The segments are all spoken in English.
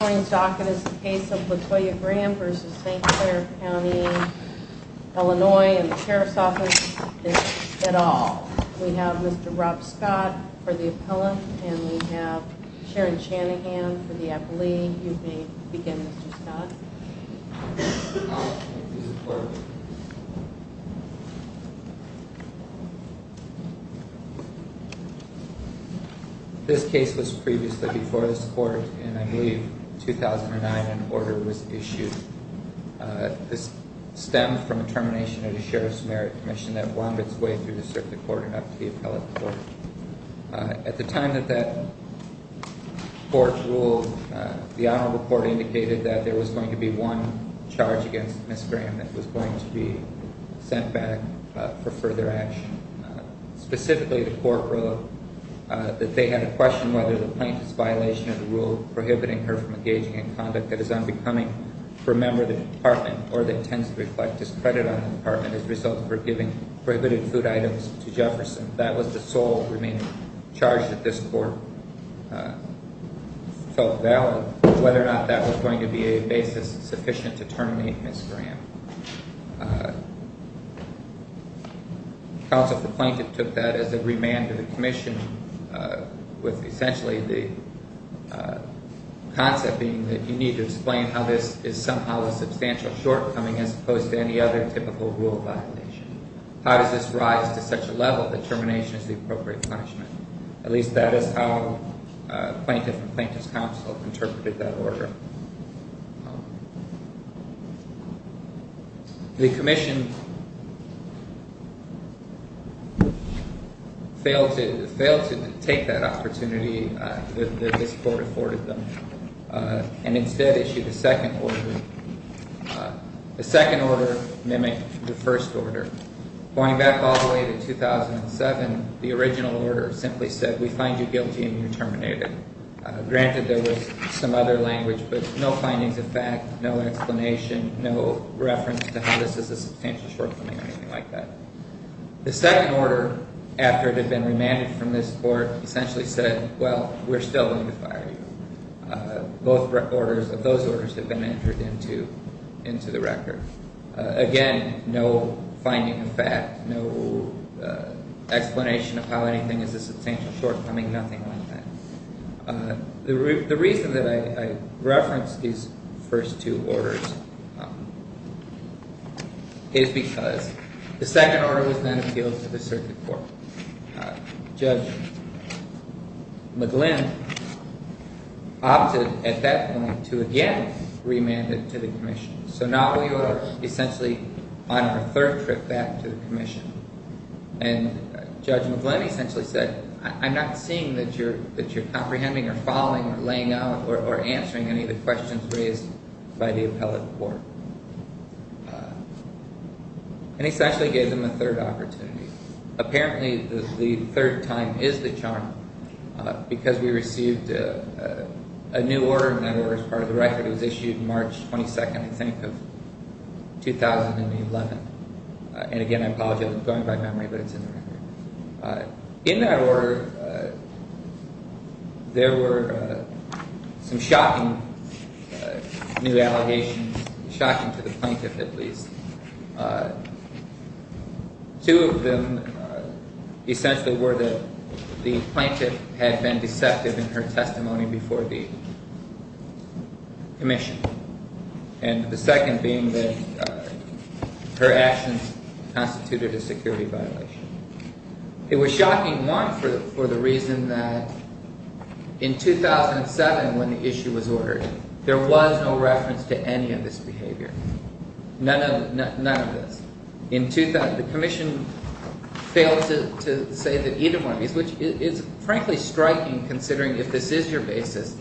The following docket is the case of Latoya Graham v. St. Clair County, Illinois and the Sheriff's Office, this at all. We have Mr. Rob Scott for the appellant and we have Sharon Shanahan for the appellee. You may begin Mr. Scott. This case was previously before this court and I believe 2009 an order was issued. This stemmed from a termination of the Sheriff's Merit Commission that wandered its way through the circuit court and up to the appellate court. At the time that that court ruled, the honorable court indicated that there was going to be one charge against Ms. Graham that was going to be sent back for further action. Specifically, the court ruled that they had a question whether the plaintiff's violation of the rule prohibiting her from engaging in conduct that is unbecoming for a member of the department or that tends to reflect discredit on the department as a result of her giving prohibited food items to Jefferson. That was the sole remaining charge that this court felt valid, whether or not that was going to be a basis sufficient to terminate Ms. Graham. The counsel for the plaintiff took that as a remand to the commission with essentially the concept being that you need to explain how this is somehow a substantial shortcoming as opposed to any other typical rule violation. How does this rise to such a level that termination is the appropriate punishment? At least that is how plaintiff and plaintiff's counsel interpreted that order. The commission failed to take that opportunity that this court afforded them and instead issued a second order. The second order mimicked the first order. Going back all the way to 2007, the original order simply said we find you guilty and you're terminated. Granted, there was some other language, but no findings of fact, no explanation, no reference to how this is a substantial shortcoming or anything like that. The second order, after it had been remanded from this court, essentially said, well, we're still going to fire you. Those orders had been entered into the record. Again, no finding of fact, no explanation of how anything is a substantial shortcoming, nothing like that. The reason that I reference these first two orders is because the second order was then appealed to the circuit court. Judge McGlynn opted at that point to again remand it to the commission. So now we are essentially on our third trip back to the commission. And Judge McGlynn essentially said, I'm not seeing that you're comprehending or following or laying out or answering any of the questions raised by the appellate court. And essentially gave them a third opportunity. Apparently, the third time is the charm because we received a new order, and that order is part of the record. It was issued March 22nd, I think, of 2011. And again, I apologize, I'm going by memory, but it's in the record. In that order, there were some shocking new allegations, shocking to the plaintiff at least. Two of them essentially were that the plaintiff had been deceptive in her testimony before the commission. And the second being that her actions constituted a security violation. It was shocking, one, for the reason that in 2007 when the issue was ordered, there was no reference to any of this behavior. None of this. The commission failed to say that either one of these, which is frankly striking considering if this is your basis,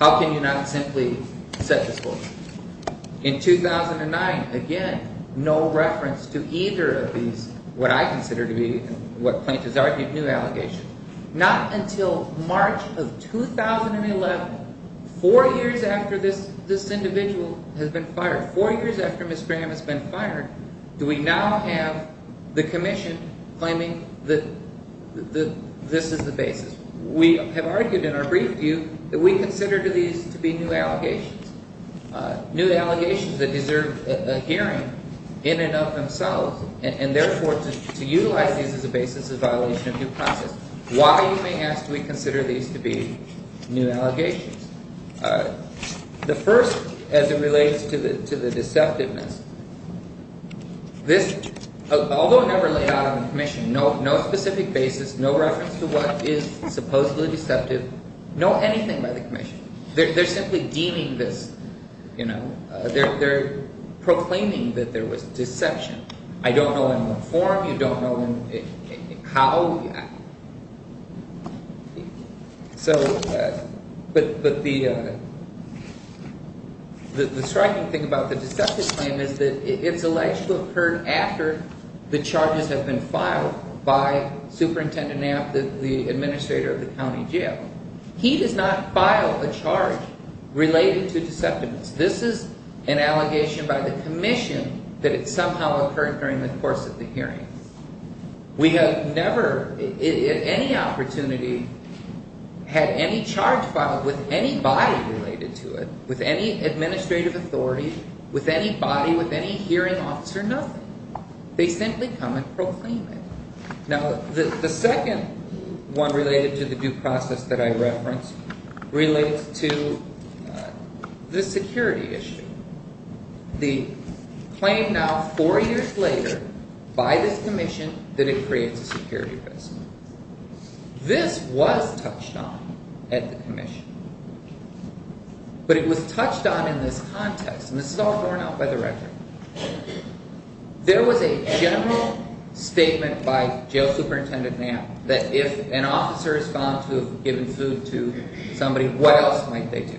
how can you not simply set this forth? In 2009, again, no reference to either of these, what I consider to be, what plaintiffs argued, new allegations. Not until March of 2011, four years after this individual has been fired, four years after Ms. Graham has been fired, do we now have the commission claiming that this is the basis. We have argued in our brief view that we consider these to be new allegations. New allegations that deserve a hearing in and of themselves, and therefore to utilize these as a basis of violation of due process. Why, you may ask, do we consider these to be new allegations? The first, as it relates to the deceptiveness, this, although never laid out on the commission, no specific basis, no reference to what is supposedly deceptive, no anything by the commission. They're simply deeming this, you know, they're proclaiming that there was deception. I don't know in what form, you don't know how. So, but the striking thing about the deceptive claim is that it's alleged to have occurred after the charges have been filed by Superintendent Knapp, the administrator of the county jail. He does not file a charge related to deceptiveness. This is an allegation by the commission that it somehow occurred during the course of the hearing. We have never, at any opportunity, had any charge filed with anybody related to it, with any administrative authority, with anybody, with any hearing officer, nothing. They simply come and proclaim it. Now, the second one related to the due process that I referenced relates to the security issue. The claim now, four years later, by this commission, that it creates a security risk. This was touched on at the commission, but it was touched on in this context, and this is all borne out by the record. There was a general statement by Jail Superintendent Knapp that if an officer is found to have given food to somebody, what else might they do?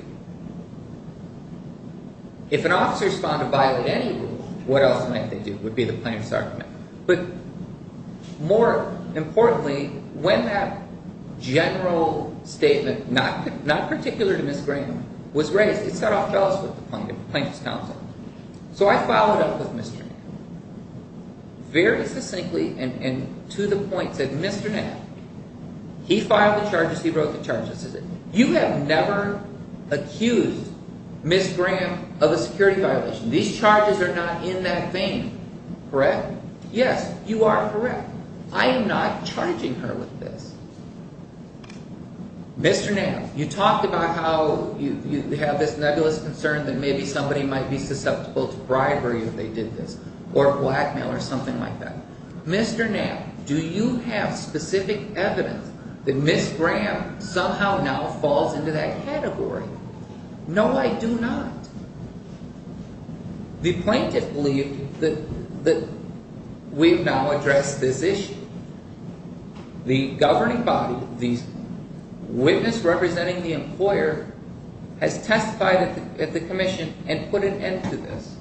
If an officer is found to violate any rule, what else might they do, would be the plaintiff's argument. But more importantly, when that general statement, not particular to Ms. Graham, was raised, it set off fells with the plaintiff's counsel. So I followed up with Mr. Knapp, very succinctly and to the point, said, Mr. Knapp, he filed the charges, he wrote the charges. You have never accused Ms. Graham of a security violation. These charges are not in that vein, correct? Yes, you are correct. I am not charging her with this. Mr. Knapp, you talked about how you have this nebulous concern that maybe somebody might be susceptible to bribery if they did this, or blackmail or something like that. Mr. Knapp, do you have specific evidence that Ms. Graham somehow now falls into that category? No, I do not. The plaintiff believed that we've now addressed this issue. The governing body, the witness representing the employer, has testified at the commission and put an end to this.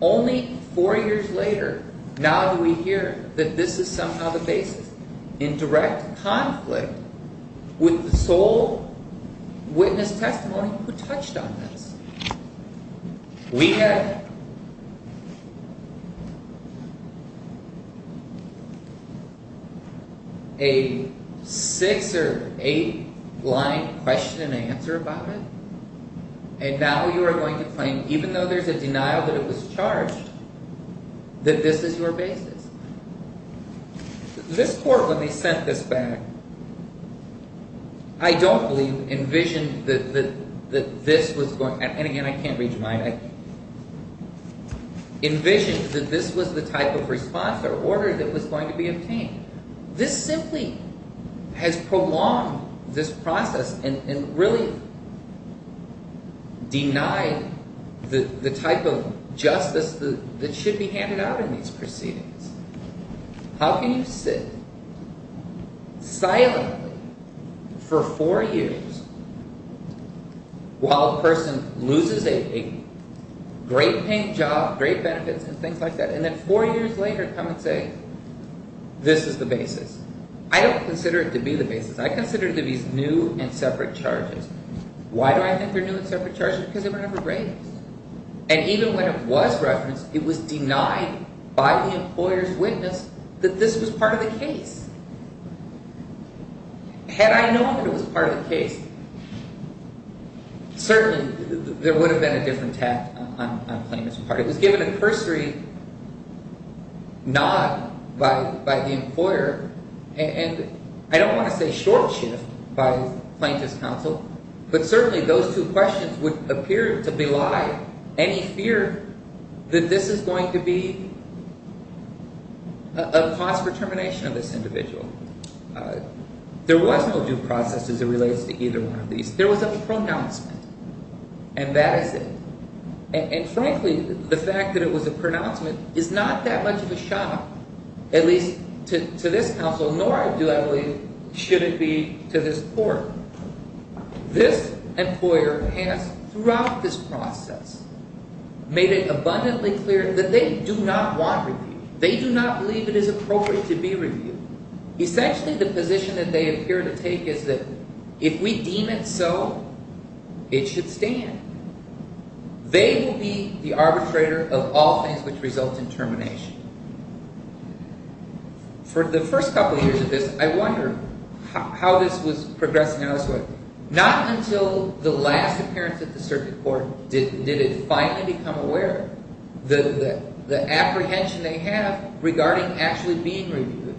Only four years later, now do we hear that this is somehow the basis in direct conflict with the sole witness testimony who touched on this. We have a six or eight line question and answer about it, and now you are going to claim, even though there is a denial that it was charged, that this is your basis. This court, when they sent this back, I don't believe envisioned that this was the type of response or order that was going to be obtained. This simply has prolonged this process and really denied the type of justice that should be handed out in these proceedings. How can you sit silently for four years while a person loses a great paying job, great benefits and things like that, and then four years later come and say, this is the basis. I don't consider it to be the basis. I consider it to be new and separate charges. Why do I think they're new and separate charges? Because they were never raised. And even when it was referenced, it was denied by the employer's witness that this was part of the case. Had I known that it was part of the case, certainly there would have been a different tact on plaintiff's part. It was given a cursory nod by the employer, and I don't want to say short shift by plaintiff's counsel, but certainly those two questions would appear to belie any fear that this is going to be a cost for termination of this individual. There was no due process as it relates to either one of these. There was a pronouncement, and that is it. And frankly, the fact that it was a pronouncement is not that much of a shock, at least to this counsel, nor do I believe should it be to this court. This employer has, throughout this process, made it abundantly clear that they do not want review. They do not believe it is appropriate to be reviewed. Essentially, the position that they appear to take is that if we deem it so, it should stand. They will be the arbitrator of all things which result in termination. For the first couple of years of this, I wondered how this was progressing elsewhere. Not until the last appearance at the circuit court did it finally become aware of the apprehension they have regarding actually being reviewed,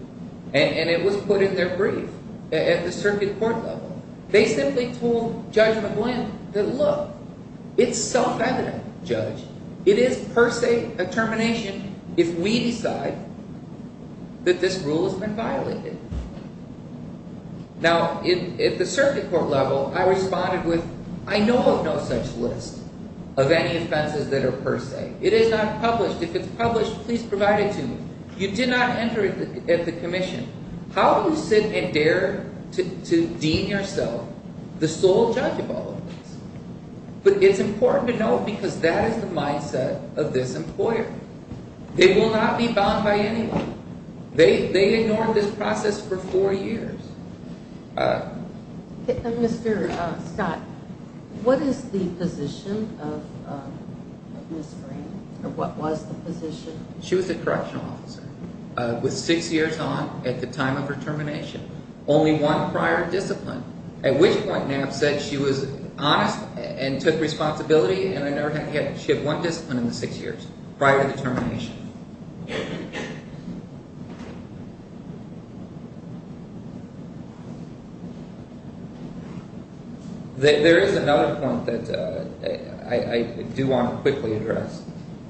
and it was put in their brief at the circuit court level. They simply told Judge McGlynn that, look, it's self-evident, Judge. It is per se a termination if we decide that this rule has been violated. Now, at the circuit court level, I responded with, I know of no such list of any offenses that are per se. It is not published. If it's published, please provide it to me. You did not enter it at the commission. How do you sit and dare to deem yourself the sole judge of all of this? But it's important to note because that is the mindset of this employer. They will not be bound by anyone. They ignored this process for four years. Mr. Scott, what is the position of Ms. Graham, or what was the position? She was a correctional officer with six years on at the time of her termination. Only one prior discipline, at which point NAF said she was honest and took responsibility, and she had one discipline in the six years prior to termination. There is another point that I do want to quickly address.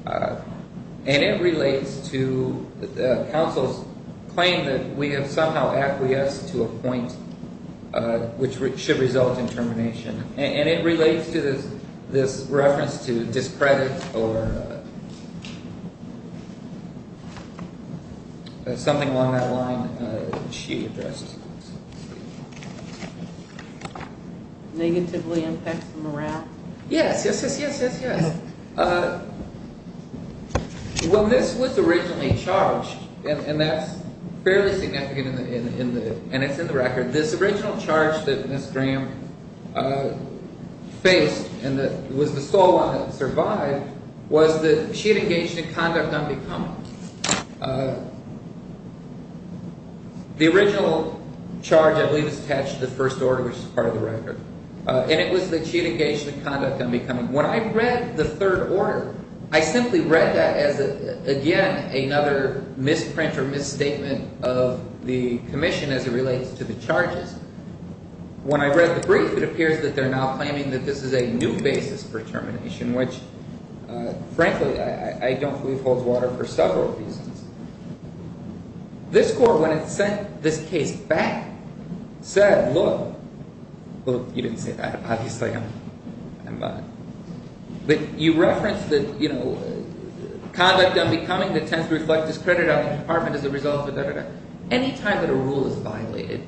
And it relates to counsel's claim that we have somehow acquiesced to a point which should result in termination. And it relates to this reference to discredit or something along that line she addressed. Negatively impacts morale? Yes, yes, yes, yes, yes, yes. Well, this was originally charged, and that's fairly significant, and it's in the record. This original charge that Ms. Graham faced and was the sole one that survived was that she had engaged in conduct unbecoming. The original charge, I believe, is attached to the first order, which is part of the record. And it was that she had engaged in conduct unbecoming. When I read the third order, I simply read that as, again, another misprint or misstatement of the commission as it relates to the charges. When I read the brief, it appears that they're now claiming that this is a new basis for termination, which, frankly, I don't believe holds water for several reasons. This court, when it sent this case back, said, look, well, you didn't say that. Obviously, I'm not. But you referenced that, you know, conduct unbecoming that tends to reflect discredit on the department as a result of da, da, da. Any time that a rule is violated,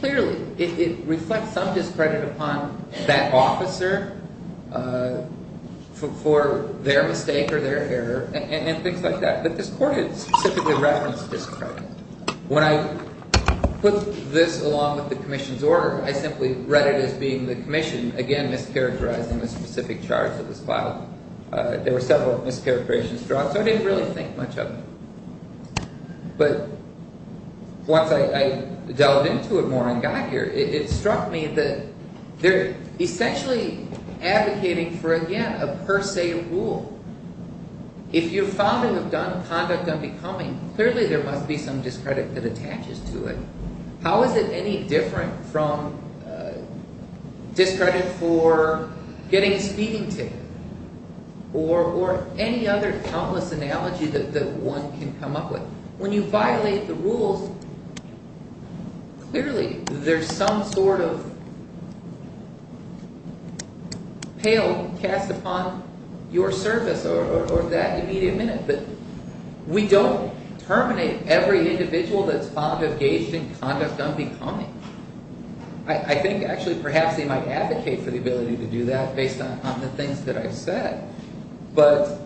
clearly, it reflects some discredit upon that officer for their mistake or their error and things like that. But this court had specifically referenced discredit. When I put this along with the commission's order, I simply read it as being the commission, again, mischaracterizing the specific charge of this file. There were several mischaracterizations drawn, so I didn't really think much of it. But once I delved into it more and got here, it struck me that they're essentially advocating for, again, a per se rule. If you're found to have done conduct unbecoming, clearly, there must be some discredit that attaches to it. How is it any different from discredit for getting a speeding ticket or any other countless analogy that one can come up with? When you violate the rules, clearly, there's some sort of pale cast upon your service or that immediate minute. But we don't terminate every individual that's found to have engaged in conduct unbecoming. I think, actually, perhaps they might advocate for the ability to do that based on the things that I've said. But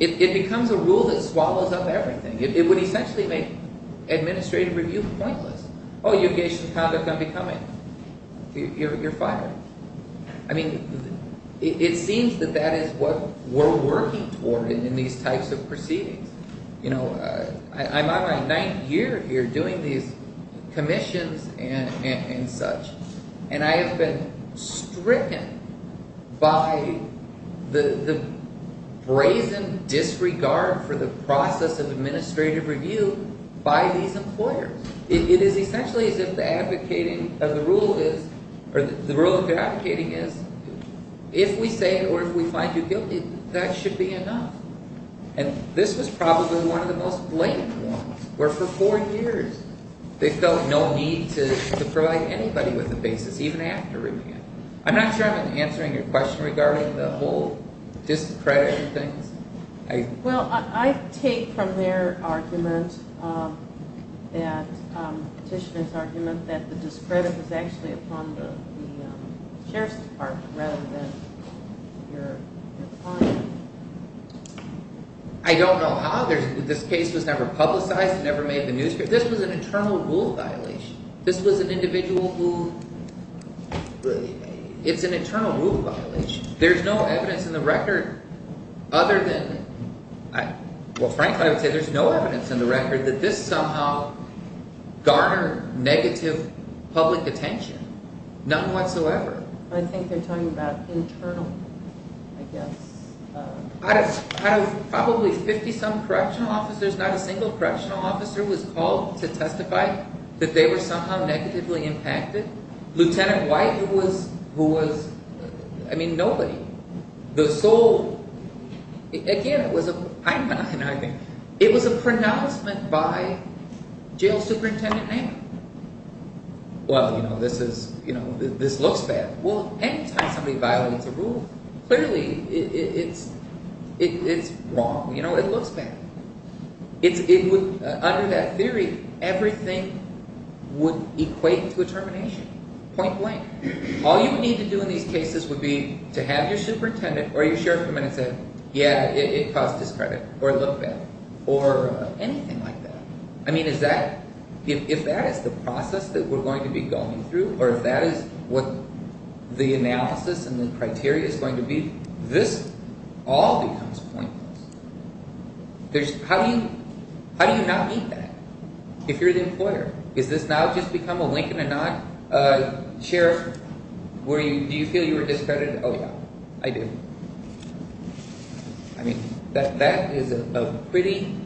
it becomes a rule that swallows up everything. It would essentially make administrative review pointless. Oh, you engaged in conduct unbecoming. You're fired. I mean, it seems that that is what we're working toward in these types of proceedings. I'm on my ninth year here doing these commissions and such. And I have been stricken by the brazen disregard for the process of administrative review by these employers. It is essentially as if the rule of advocating is, if we say it or if we find you guilty, that should be enough. And this was probably one of the most blatant ones, where for four years they felt no need to provide anybody with a basis, even after reviewing it. I'm not sure I'm answering your question regarding the whole discredit thing. Well, I take from their argument, Petitioner's argument, that the discredit was actually upon the Sheriff's Department rather than your client. I don't know how. This case was never publicized. It never made the newspaper. This was an internal rule violation. This was an individual who, it's an internal rule violation. There's no evidence in the record other than, well frankly I would say there's no evidence in the record that this somehow garnered negative public attention. None whatsoever. I think they're talking about internal, I guess. Out of probably 50-some correctional officers, not a single correctional officer was called to testify that they were somehow negatively impacted. Lieutenant White, who was, I mean nobody. The sole, again, it was a pronouncement by jail superintendent name. Well, you know, this looks bad. Well, any time somebody violates a rule, clearly it's wrong. You know, it looks bad. Under that theory, everything would equate to a termination, point blank. All you would need to do in these cases would be to have your superintendent or your sheriff come in and say, yeah, it caused discredit, or it looked bad, or anything like that. I mean, is that, if that is the process that we're going to be going through, or if that is what the analysis and the criteria is going to be, this all becomes pointless. There's, how do you, how do you not need that if you're the employer? Is this now just become a wink and a nod? Sheriff, do you feel you were discredited? Oh yeah, I do. I mean, that is a pretty,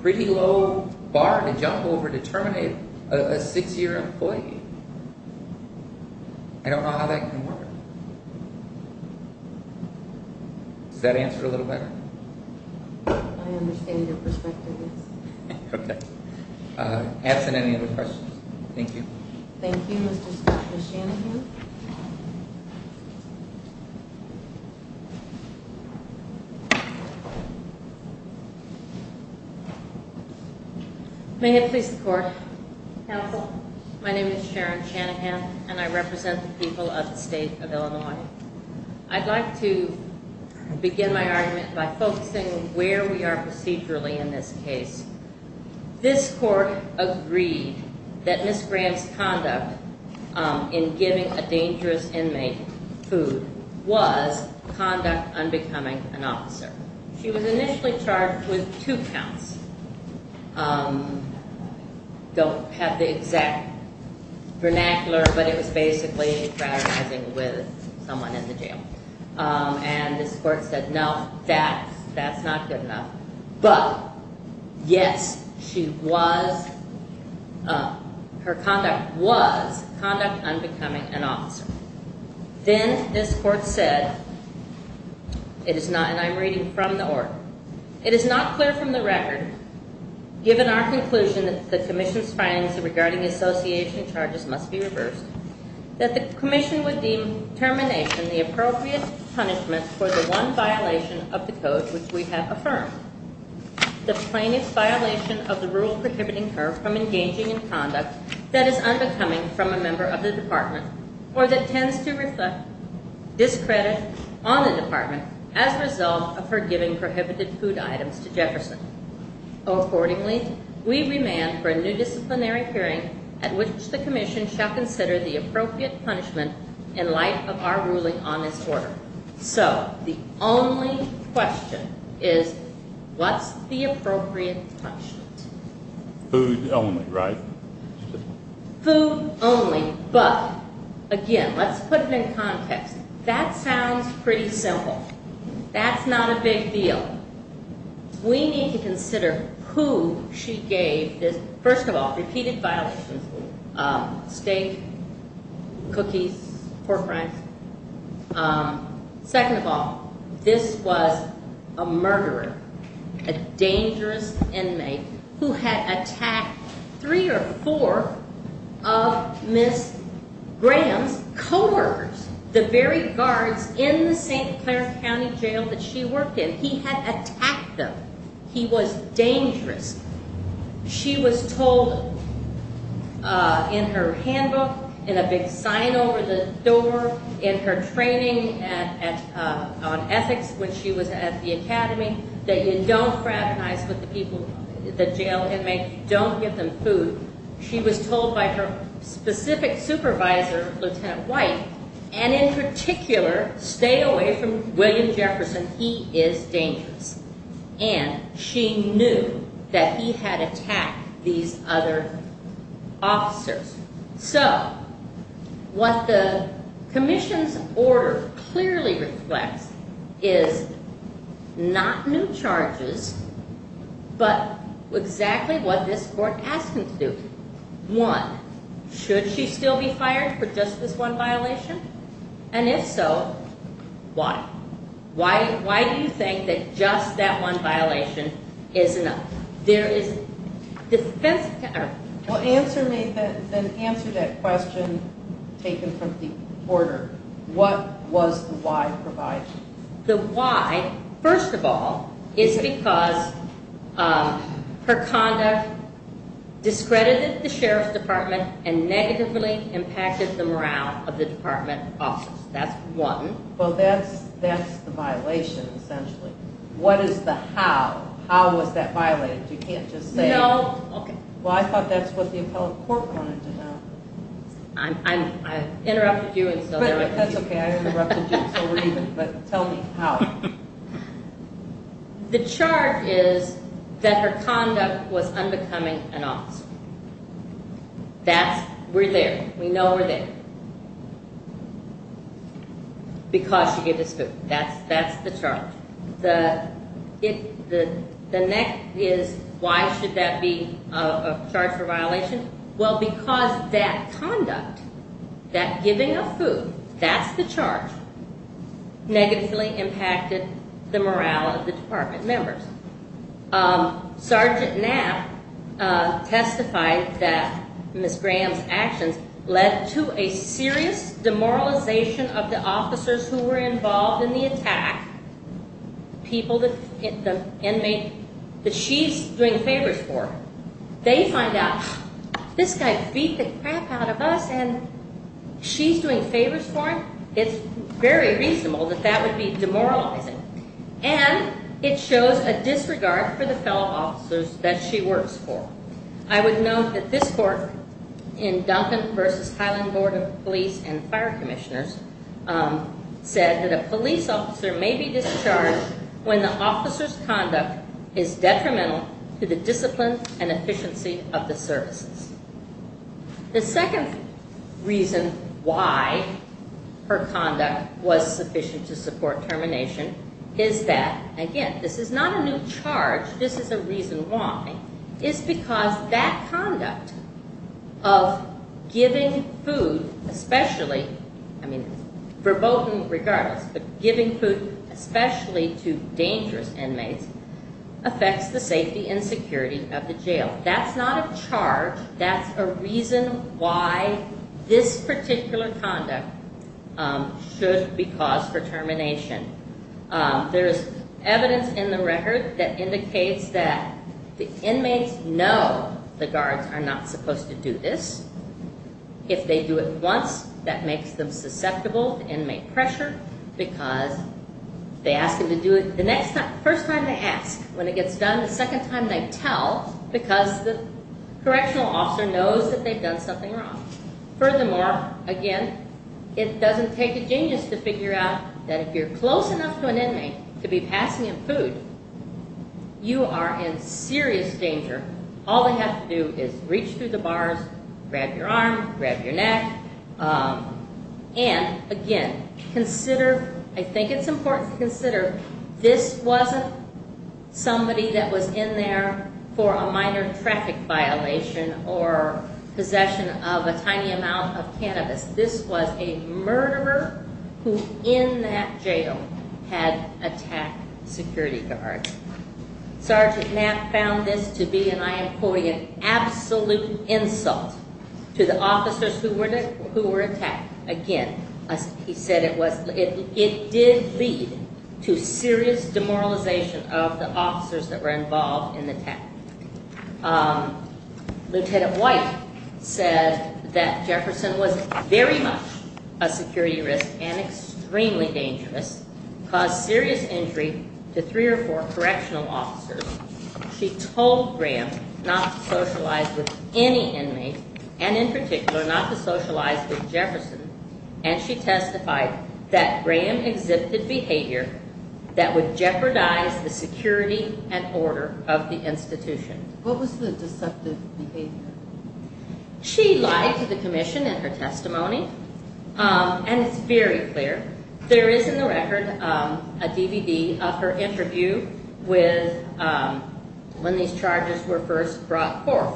pretty low bar to jump over to terminate a six-year employee. I don't know how that can work. Does that answer it a little better? I understand your perspective, yes. Okay. Absent any other questions. Thank you. Thank you, Mr. Shanahan. Thank you. May it please the court. Counsel, my name is Sharon Shanahan, and I represent the people of the state of Illinois. I'd like to begin my argument by focusing on where we are procedurally in this case. This court agreed that Ms. Graham's conduct in giving a dangerous inmate food was conduct unbecoming an officer. She was initially charged with two counts. Don't have the exact vernacular, but it was basically fraternizing with someone in the jail. And this court said, no, that's not good enough. But, yes, she was, her conduct was conduct unbecoming an officer. Then this court said, it is not, and I'm reading from the order. It is not clear from the record, given our conclusion that the commission's findings regarding association charges must be reversed, that the commission would deem termination the appropriate punishment for the one violation of the code which we have affirmed, the plaintiff's violation of the rule prohibiting her from engaging in conduct that is unbecoming from a member of the department, or that tends to reflect discredit on the department as a result of her giving prohibited food items to Jefferson. Accordingly, we remand for a new disciplinary hearing at which the commission shall consider the appropriate punishment in light of our ruling on this order. So, the only question is, what's the appropriate punishment? Food only, right? Food only, but, again, let's put it in context. That sounds pretty simple. That's not a big deal. We need to consider who she gave this, first of all, repeated violations, steak, cookies, pork rinds. Second of all, this was a murderer, a dangerous inmate who had attacked three or four of Ms. Graham's coworkers, the very guards in the St. Clair County Jail that she worked in. He had attacked them. He was dangerous. She was told in her handbook, in a big sign over the door, in her training on ethics when she was at the academy, that you don't fraternize with the people, the jail inmates, don't give them food. She was told by her specific supervisor, Lieutenant White, and in particular, stay away from William Jefferson. He is dangerous. And she knew that he had attacked these other officers. So, what the commission's order clearly reflects is not new charges, but exactly what this court asked them to do. One, should she still be fired for just this one violation? And if so, why? Why do you think that just that one violation is enough? Well, answer me, then answer that question taken from the order. What was the why provided? The why, first of all, is because her conduct discredited the sheriff's department and negatively impacted the morale of the department office. That's one. Well, that's the violation, essentially. What is the how? You can't just say... Well, I thought that's what the appellate court wanted to know. I interrupted you, and so... That's okay, I interrupted you, so we're even, but tell me how. The chart is that her conduct was unbecoming an officer. That's, we're there. We know we're there. Because she gave this food. That's the chart. The next is, why should that be a charge for violation? Well, because that conduct, that giving of food, that's the charge, negatively impacted the morale of the department members. Sergeant Knapp testified that Ms. Graham's actions led to a serious demoralization of the officers who were involved in the attack. People, the inmates that she's doing favors for. They find out, this guy beat the crap out of us, and she's doing favors for him? It's very reasonable that that would be demoralizing. And it shows a disregard for the fellow officers that she works for. I would note that this court, in Duncan v. Highland Board of Police and Fire Commissioners, said that a police officer may be discharged when the officer's conduct is detrimental to the discipline and efficiency of the services. The second reason why her conduct was sufficient to support termination is that, again, this is not a new charge. This is a reason why, is because that conduct of giving food, especially, I mean, verboten regardless, but giving food, especially to dangerous inmates, affects the safety and security of the jail. That's not a charge. That's a reason why this particular conduct should be caused for termination. There's evidence in the record that indicates that the inmates know the guards are not supposed to do this. If they do it once, that makes them susceptible to inmate pressure because they ask them to do it the first time they ask. When it gets done the second time they tell because the correctional officer knows that they've done something wrong. Furthermore, again, it doesn't take a genius to figure out that if you're close enough to an inmate to be passing him food, you are in serious danger. All they have to do is reach through the bars, grab your arm, grab your neck. And, again, consider, I think it's important to consider, this wasn't somebody that was in there for a minor traffic violation or possession of a tiny amount of cannabis. This was a murderer who, in that jail, had attacked security guards. Sergeant Knapp found this to be, and I am quoting, an absolute insult to the officers who were attacked. Again, he said it did lead to serious demoralization of the officers that were involved in the attack. Lieutenant White said that Jefferson was very much a security risk and extremely dangerous, caused serious injury to three or four correctional officers. She told Graham not to socialize with any inmate and, in particular, not to socialize with Jefferson. And she testified that Graham exhibited behavior that would jeopardize the security and order of the institution. What was the deceptive behavior? She lied to the commission in her testimony, and it's very clear. There is, in the record, a DVD of her interview when these charges were first brought forth.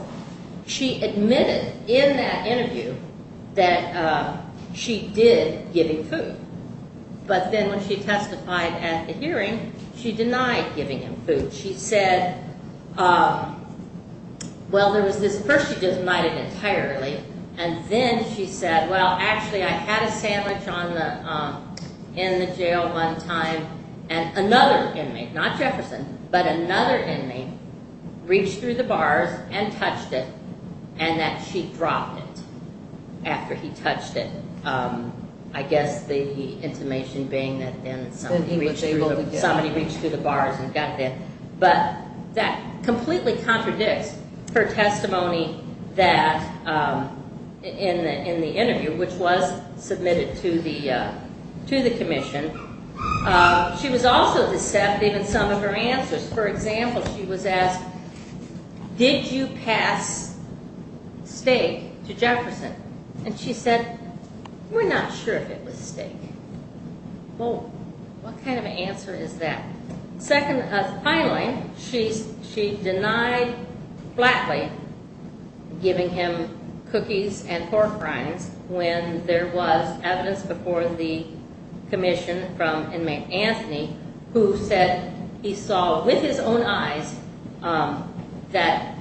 She admitted in that interview that she did give him food. But then when she testified at the hearing, she denied giving him food. She said, well, there was this, first she denied it entirely, and then she said, well, actually, I had a sandwich in the jail one time, and another inmate, not Jefferson, but another inmate reached through the bars and touched it, and that she dropped it after he touched it. I guess the intimation being that then somebody reached through the bars and got there. But that completely contradicts her testimony in the interview, which was submitted to the commission. She was also deceptive in some of her answers. For example, she was asked, did you pass steak to Jefferson? And she said, we're not sure if it was steak. Well, what kind of an answer is that? Finally, she denied flatly giving him cookies and pork rinds when there was evidence before the commission from inmate Anthony who said he saw with his own eyes that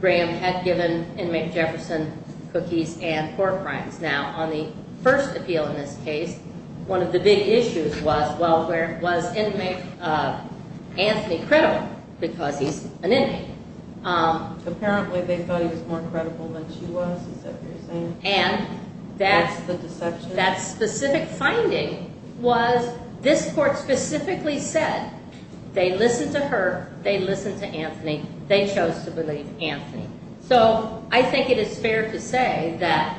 Graham had given inmate Jefferson cookies and pork rinds. Now, on the first appeal in this case, one of the big issues was, well, was inmate Anthony credible because he's an inmate? Apparently, they thought he was more credible than she was, is that what you're saying? And that specific finding was this court specifically said they listened to her, they listened to Anthony, they chose to believe Anthony. So I think it is fair to say that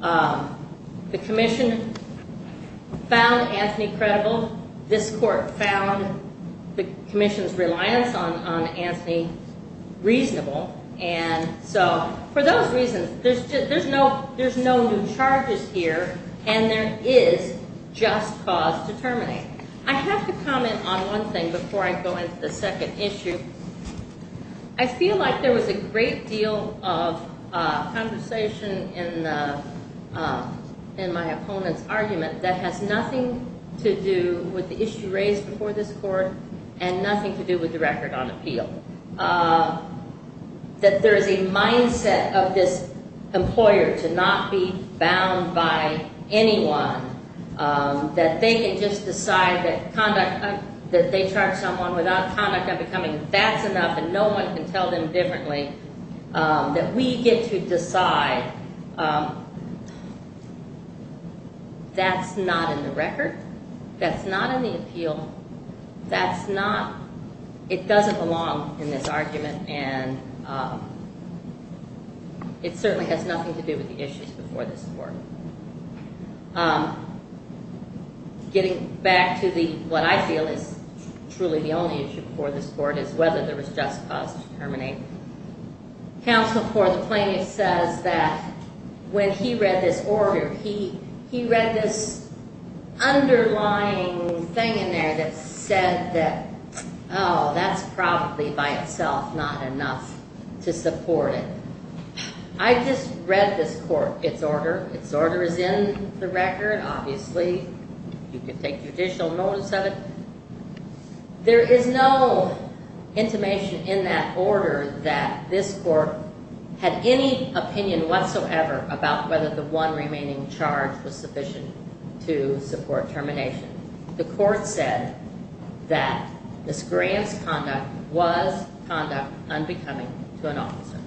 the commission found Anthony credible, this court found the commission's reliance on Anthony reasonable. And so for those reasons, there's no new charges here and there is just cause to terminate. I have to comment on one thing before I go into the second issue. I feel like there was a great deal of conversation in my opponent's argument that has nothing to do with the issue raised before this court and nothing to do with the record on appeal. I think that there is a mindset of this employer to not be bound by anyone, that they can just decide that conduct, that they charge someone without conduct of becoming, that's enough and no one can tell them differently. That we get to decide that's not in the record, that's not in the appeal, that's not, it doesn't belong in this argument and it certainly has nothing to do with the issues before this court. Getting back to what I feel is truly the only issue before this court is whether there was just cause to terminate. Counsel for the plaintiff says that when he read this order, he read this underlying thing in there that said that, oh, that's probably by itself not enough to support it. I just read this court, its order. Its order is in the record, obviously. You can take judicial notice of it. There is no intimation in that order that this court had any opinion whatsoever about whether the one remaining charge was sufficient to support termination. The court said that this grant's conduct was conduct unbecoming to an officer.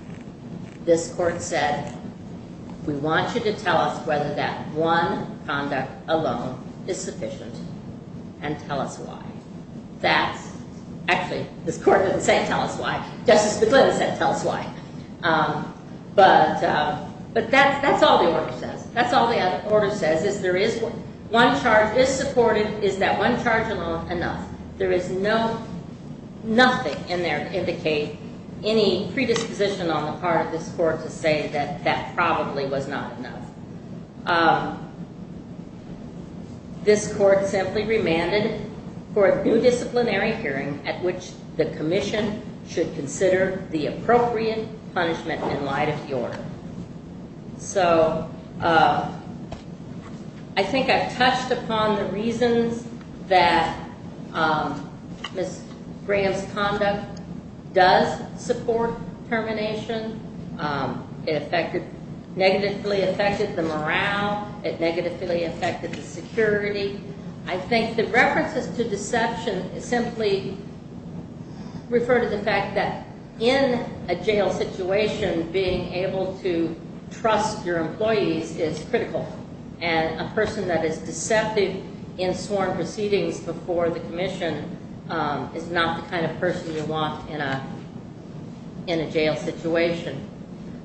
This court said, we want you to tell us whether that one conduct alone is sufficient and tell us why. Actually, this court didn't say tell us why. Justice McGlynn said tell us why. But that's all the order says. That's all the order says is there is, one charge is supported, is that one charge alone enough? There is no, nothing in there to indicate any predisposition on the part of this court to say that that probably was not enough. This court simply remanded for a new disciplinary hearing at which the commission should consider the appropriate punishment in light of the order. So, I think I've touched upon the reasons that Ms. Graham's conduct does support termination. It negatively affected the morale. It negatively affected the security. I think the references to deception simply refer to the fact that in a jail situation, being able to trust your employees is critical. And a person that is deceptive in sworn proceedings before the commission is not the kind of person you want in a jail situation.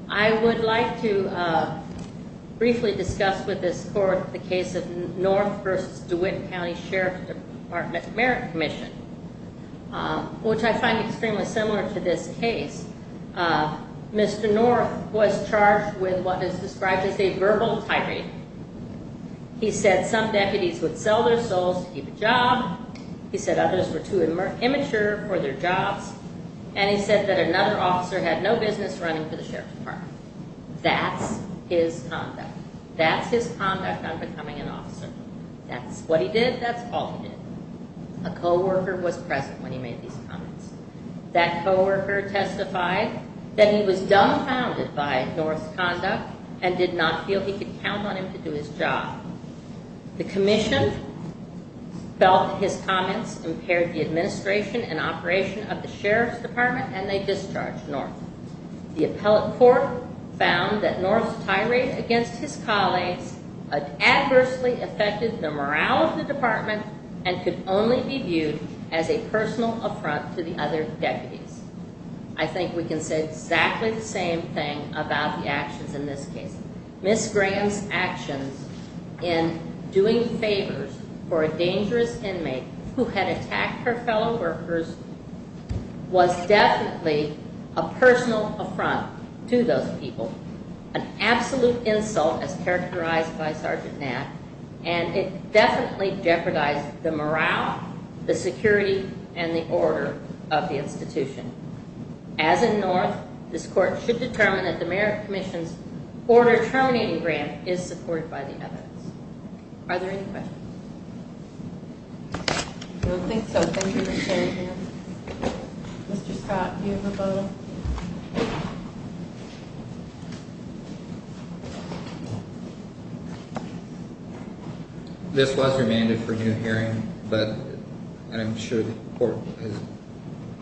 I would like to briefly discuss with this court the case of North v. DeWitt County Sheriff's Department Merit Commission, which I find extremely similar to this case. Mr. North was charged with what is described as a verbal tyranny. He said some deputies would sell their souls to keep a job. He said others were too immature for their jobs. And he said that another officer had no business running for the Sheriff's Department. That's his conduct. That's his conduct on becoming an officer. That's what he did. That's all he did. A co-worker was present when he made these comments. That co-worker testified that he was dumbfounded by North's conduct and did not feel he could count on him to do his job. The commission felt that his comments impaired the administration and operation of the Sheriff's Department and they discharged North. The appellate court found that North's tirade against his colleagues adversely affected the morale of the department and could only be viewed as a personal affront to the other deputies. I think we can say exactly the same thing about the actions in this case. Ms. Graham's actions in doing favors for a dangerous inmate who had attacked her fellow workers was definitely a personal affront to those people. An absolute insult as characterized by Sergeant Knapp. And it definitely jeopardized the morale, the security, and the order of the institution. As in North, this court should determine that the merit commission's order terminating grant is supported by the evidence. Are there any questions? I don't think so. Thank you, Ms. Graham. Mr. Scott, do you have a vote? This was remanded for new hearing, but I'm sure the court has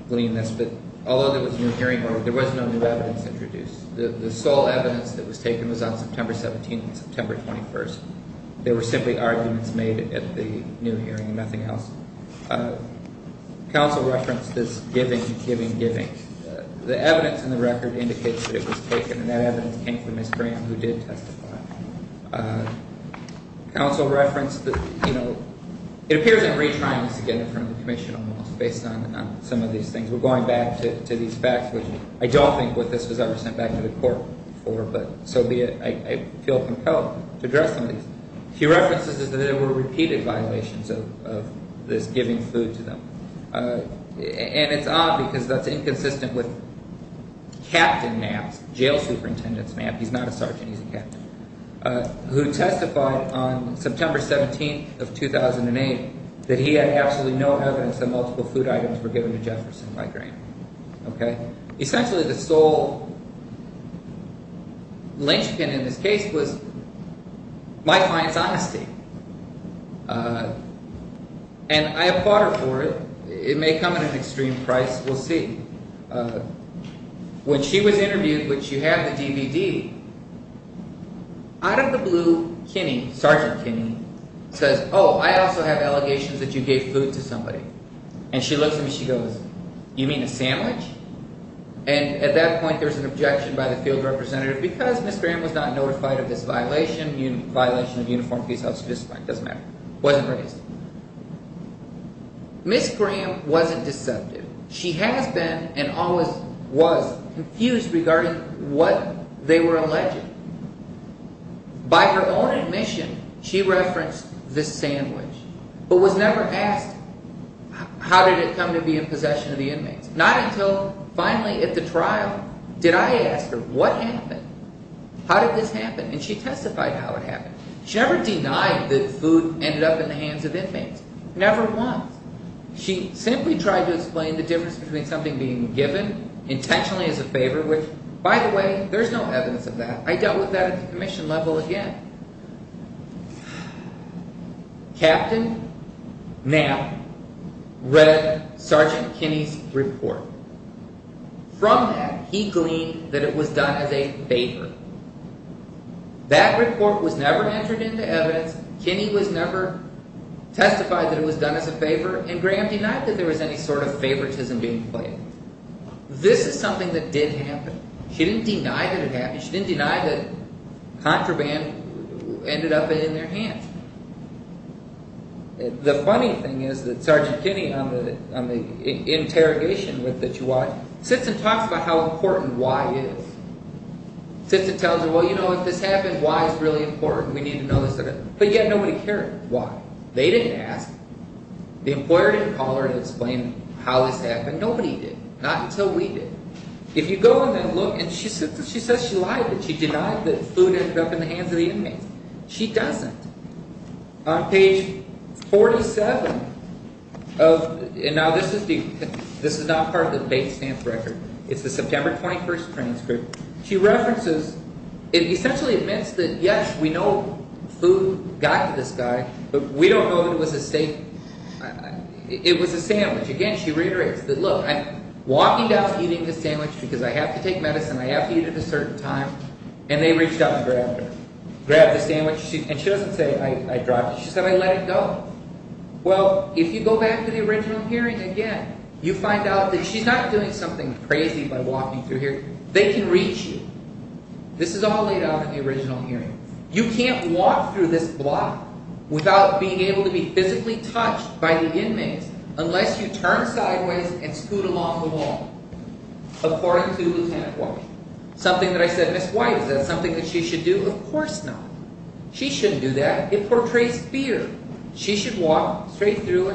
gleaned this, but although there was new hearing order, there was no new evidence introduced. The sole evidence that was taken was on September 17th and September 21st. There were simply arguments made at the new hearing and nothing else. Counsel referenced this giving, giving, giving. The evidence in the record indicates that it was taken, and that evidence came from Ms. Graham, who did testify. Counsel referenced that, you know, it appears in retrying this again in front of the commission, almost, based on some of these things. We're going back to these facts, which I don't think this was ever sent back to the court for, but so be it. I feel compelled to address some of these. A few references is that there were repeated violations of this giving food to them, and it's odd because that's inconsistent with Captain Mapps, jail superintendent Mapps. He's not a sergeant, he's a captain, who testified on September 17th of 2008 that he had absolutely no evidence that multiple food items were given to Jefferson by Graham. Essentially the sole linchpin in this case was my client's honesty, and I applaud her for it. It may come at an extreme price, we'll see. When she was interviewed, which you have the DVD, out of the blue, Kinney, Sergeant Kinney, says, oh, I also have allegations that you gave food to somebody. And she looks at me and she goes, you mean a sandwich? And at that point there's an objection by the field representative because Ms. Graham was not notified of this violation, violation of uniformed police officer's discipline, doesn't matter, wasn't raised. Ms. Graham wasn't deceptive. She has been and always was confused regarding what they were alleging. By her own admission, she referenced the sandwich, but was never asked how did it come to be in possession of the inmates. Not until finally at the trial did I ask her what happened, how did this happen, and she testified how it happened. She never denied that food ended up in the hands of inmates, never once. She simply tried to explain the difference between something being given intentionally as a favor, which, by the way, there's no evidence of that. I dealt with that at the commission level again. Captain Knapp read Sergeant Kinney's report. From that, he gleaned that it was done as a favor. That report was never entered into evidence. Kinney was never testified that it was done as a favor, and Graham denied that there was any sort of favoritism being played. This is something that did happen. She didn't deny that it happened. She didn't deny that contraband ended up in their hands. The funny thing is that Sergeant Kinney, on the interrogation that you watch, sits and talks about how important why is. Sits and tells her, well, you know, if this happened, why is really important. We need to know this. But yet nobody cared why. They didn't ask. The employer didn't call her and explain how this happened. Nobody did, not until we did. If you go and then look, and she says she lied, that she denied that food ended up in the hands of the inmates. She doesn't. On page 47 of, and now this is not part of the base stamp record. It's the September 21st transcript. She references, it essentially admits that, yes, we know food got to this guy, but we don't know that it was a steak. It was a sandwich. Again, she reiterates that, look, I'm walking out eating this sandwich because I have to take medicine. I have to eat it at a certain time. And they reached out and grabbed her. Grabbed the sandwich. And she doesn't say, I dropped it. She said, I let it go. Well, if you go back to the original hearing again, you find out that she's not doing something crazy by walking through here. They can reach you. This is all laid out in the original hearing. You can't walk through this block without being able to be physically touched by the inmates unless you turn sideways and scoot along the wall. According to Lieutenant White. Something that I said, Miss White, is that something that she should do? Of course not. She shouldn't do that. It portrays fear. She should walk straight through.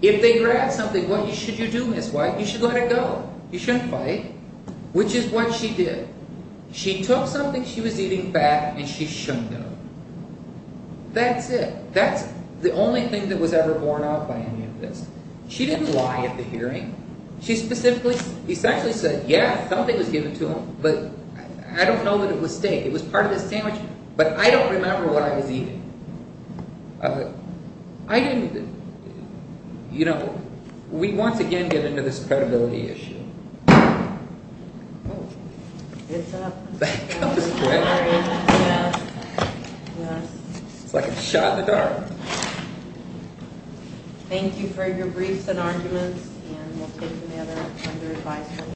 If they grab something, what should you do, Miss White? You should let it go. You shouldn't fight. Which is what she did. She took something she was eating back and she shouldn't go. That's it. That's the only thing that was ever borne out by any of this. She didn't lie at the hearing. She specifically, essentially said, yeah, something was given to him, but I don't know that it was steak. But I don't remember what I was eating. I didn't, you know, we once again get into this credibility issue. Oh. It's up. That was quick. It's like a shot in the dark. Thank you for your briefs and arguments and we'll take any other under advisement.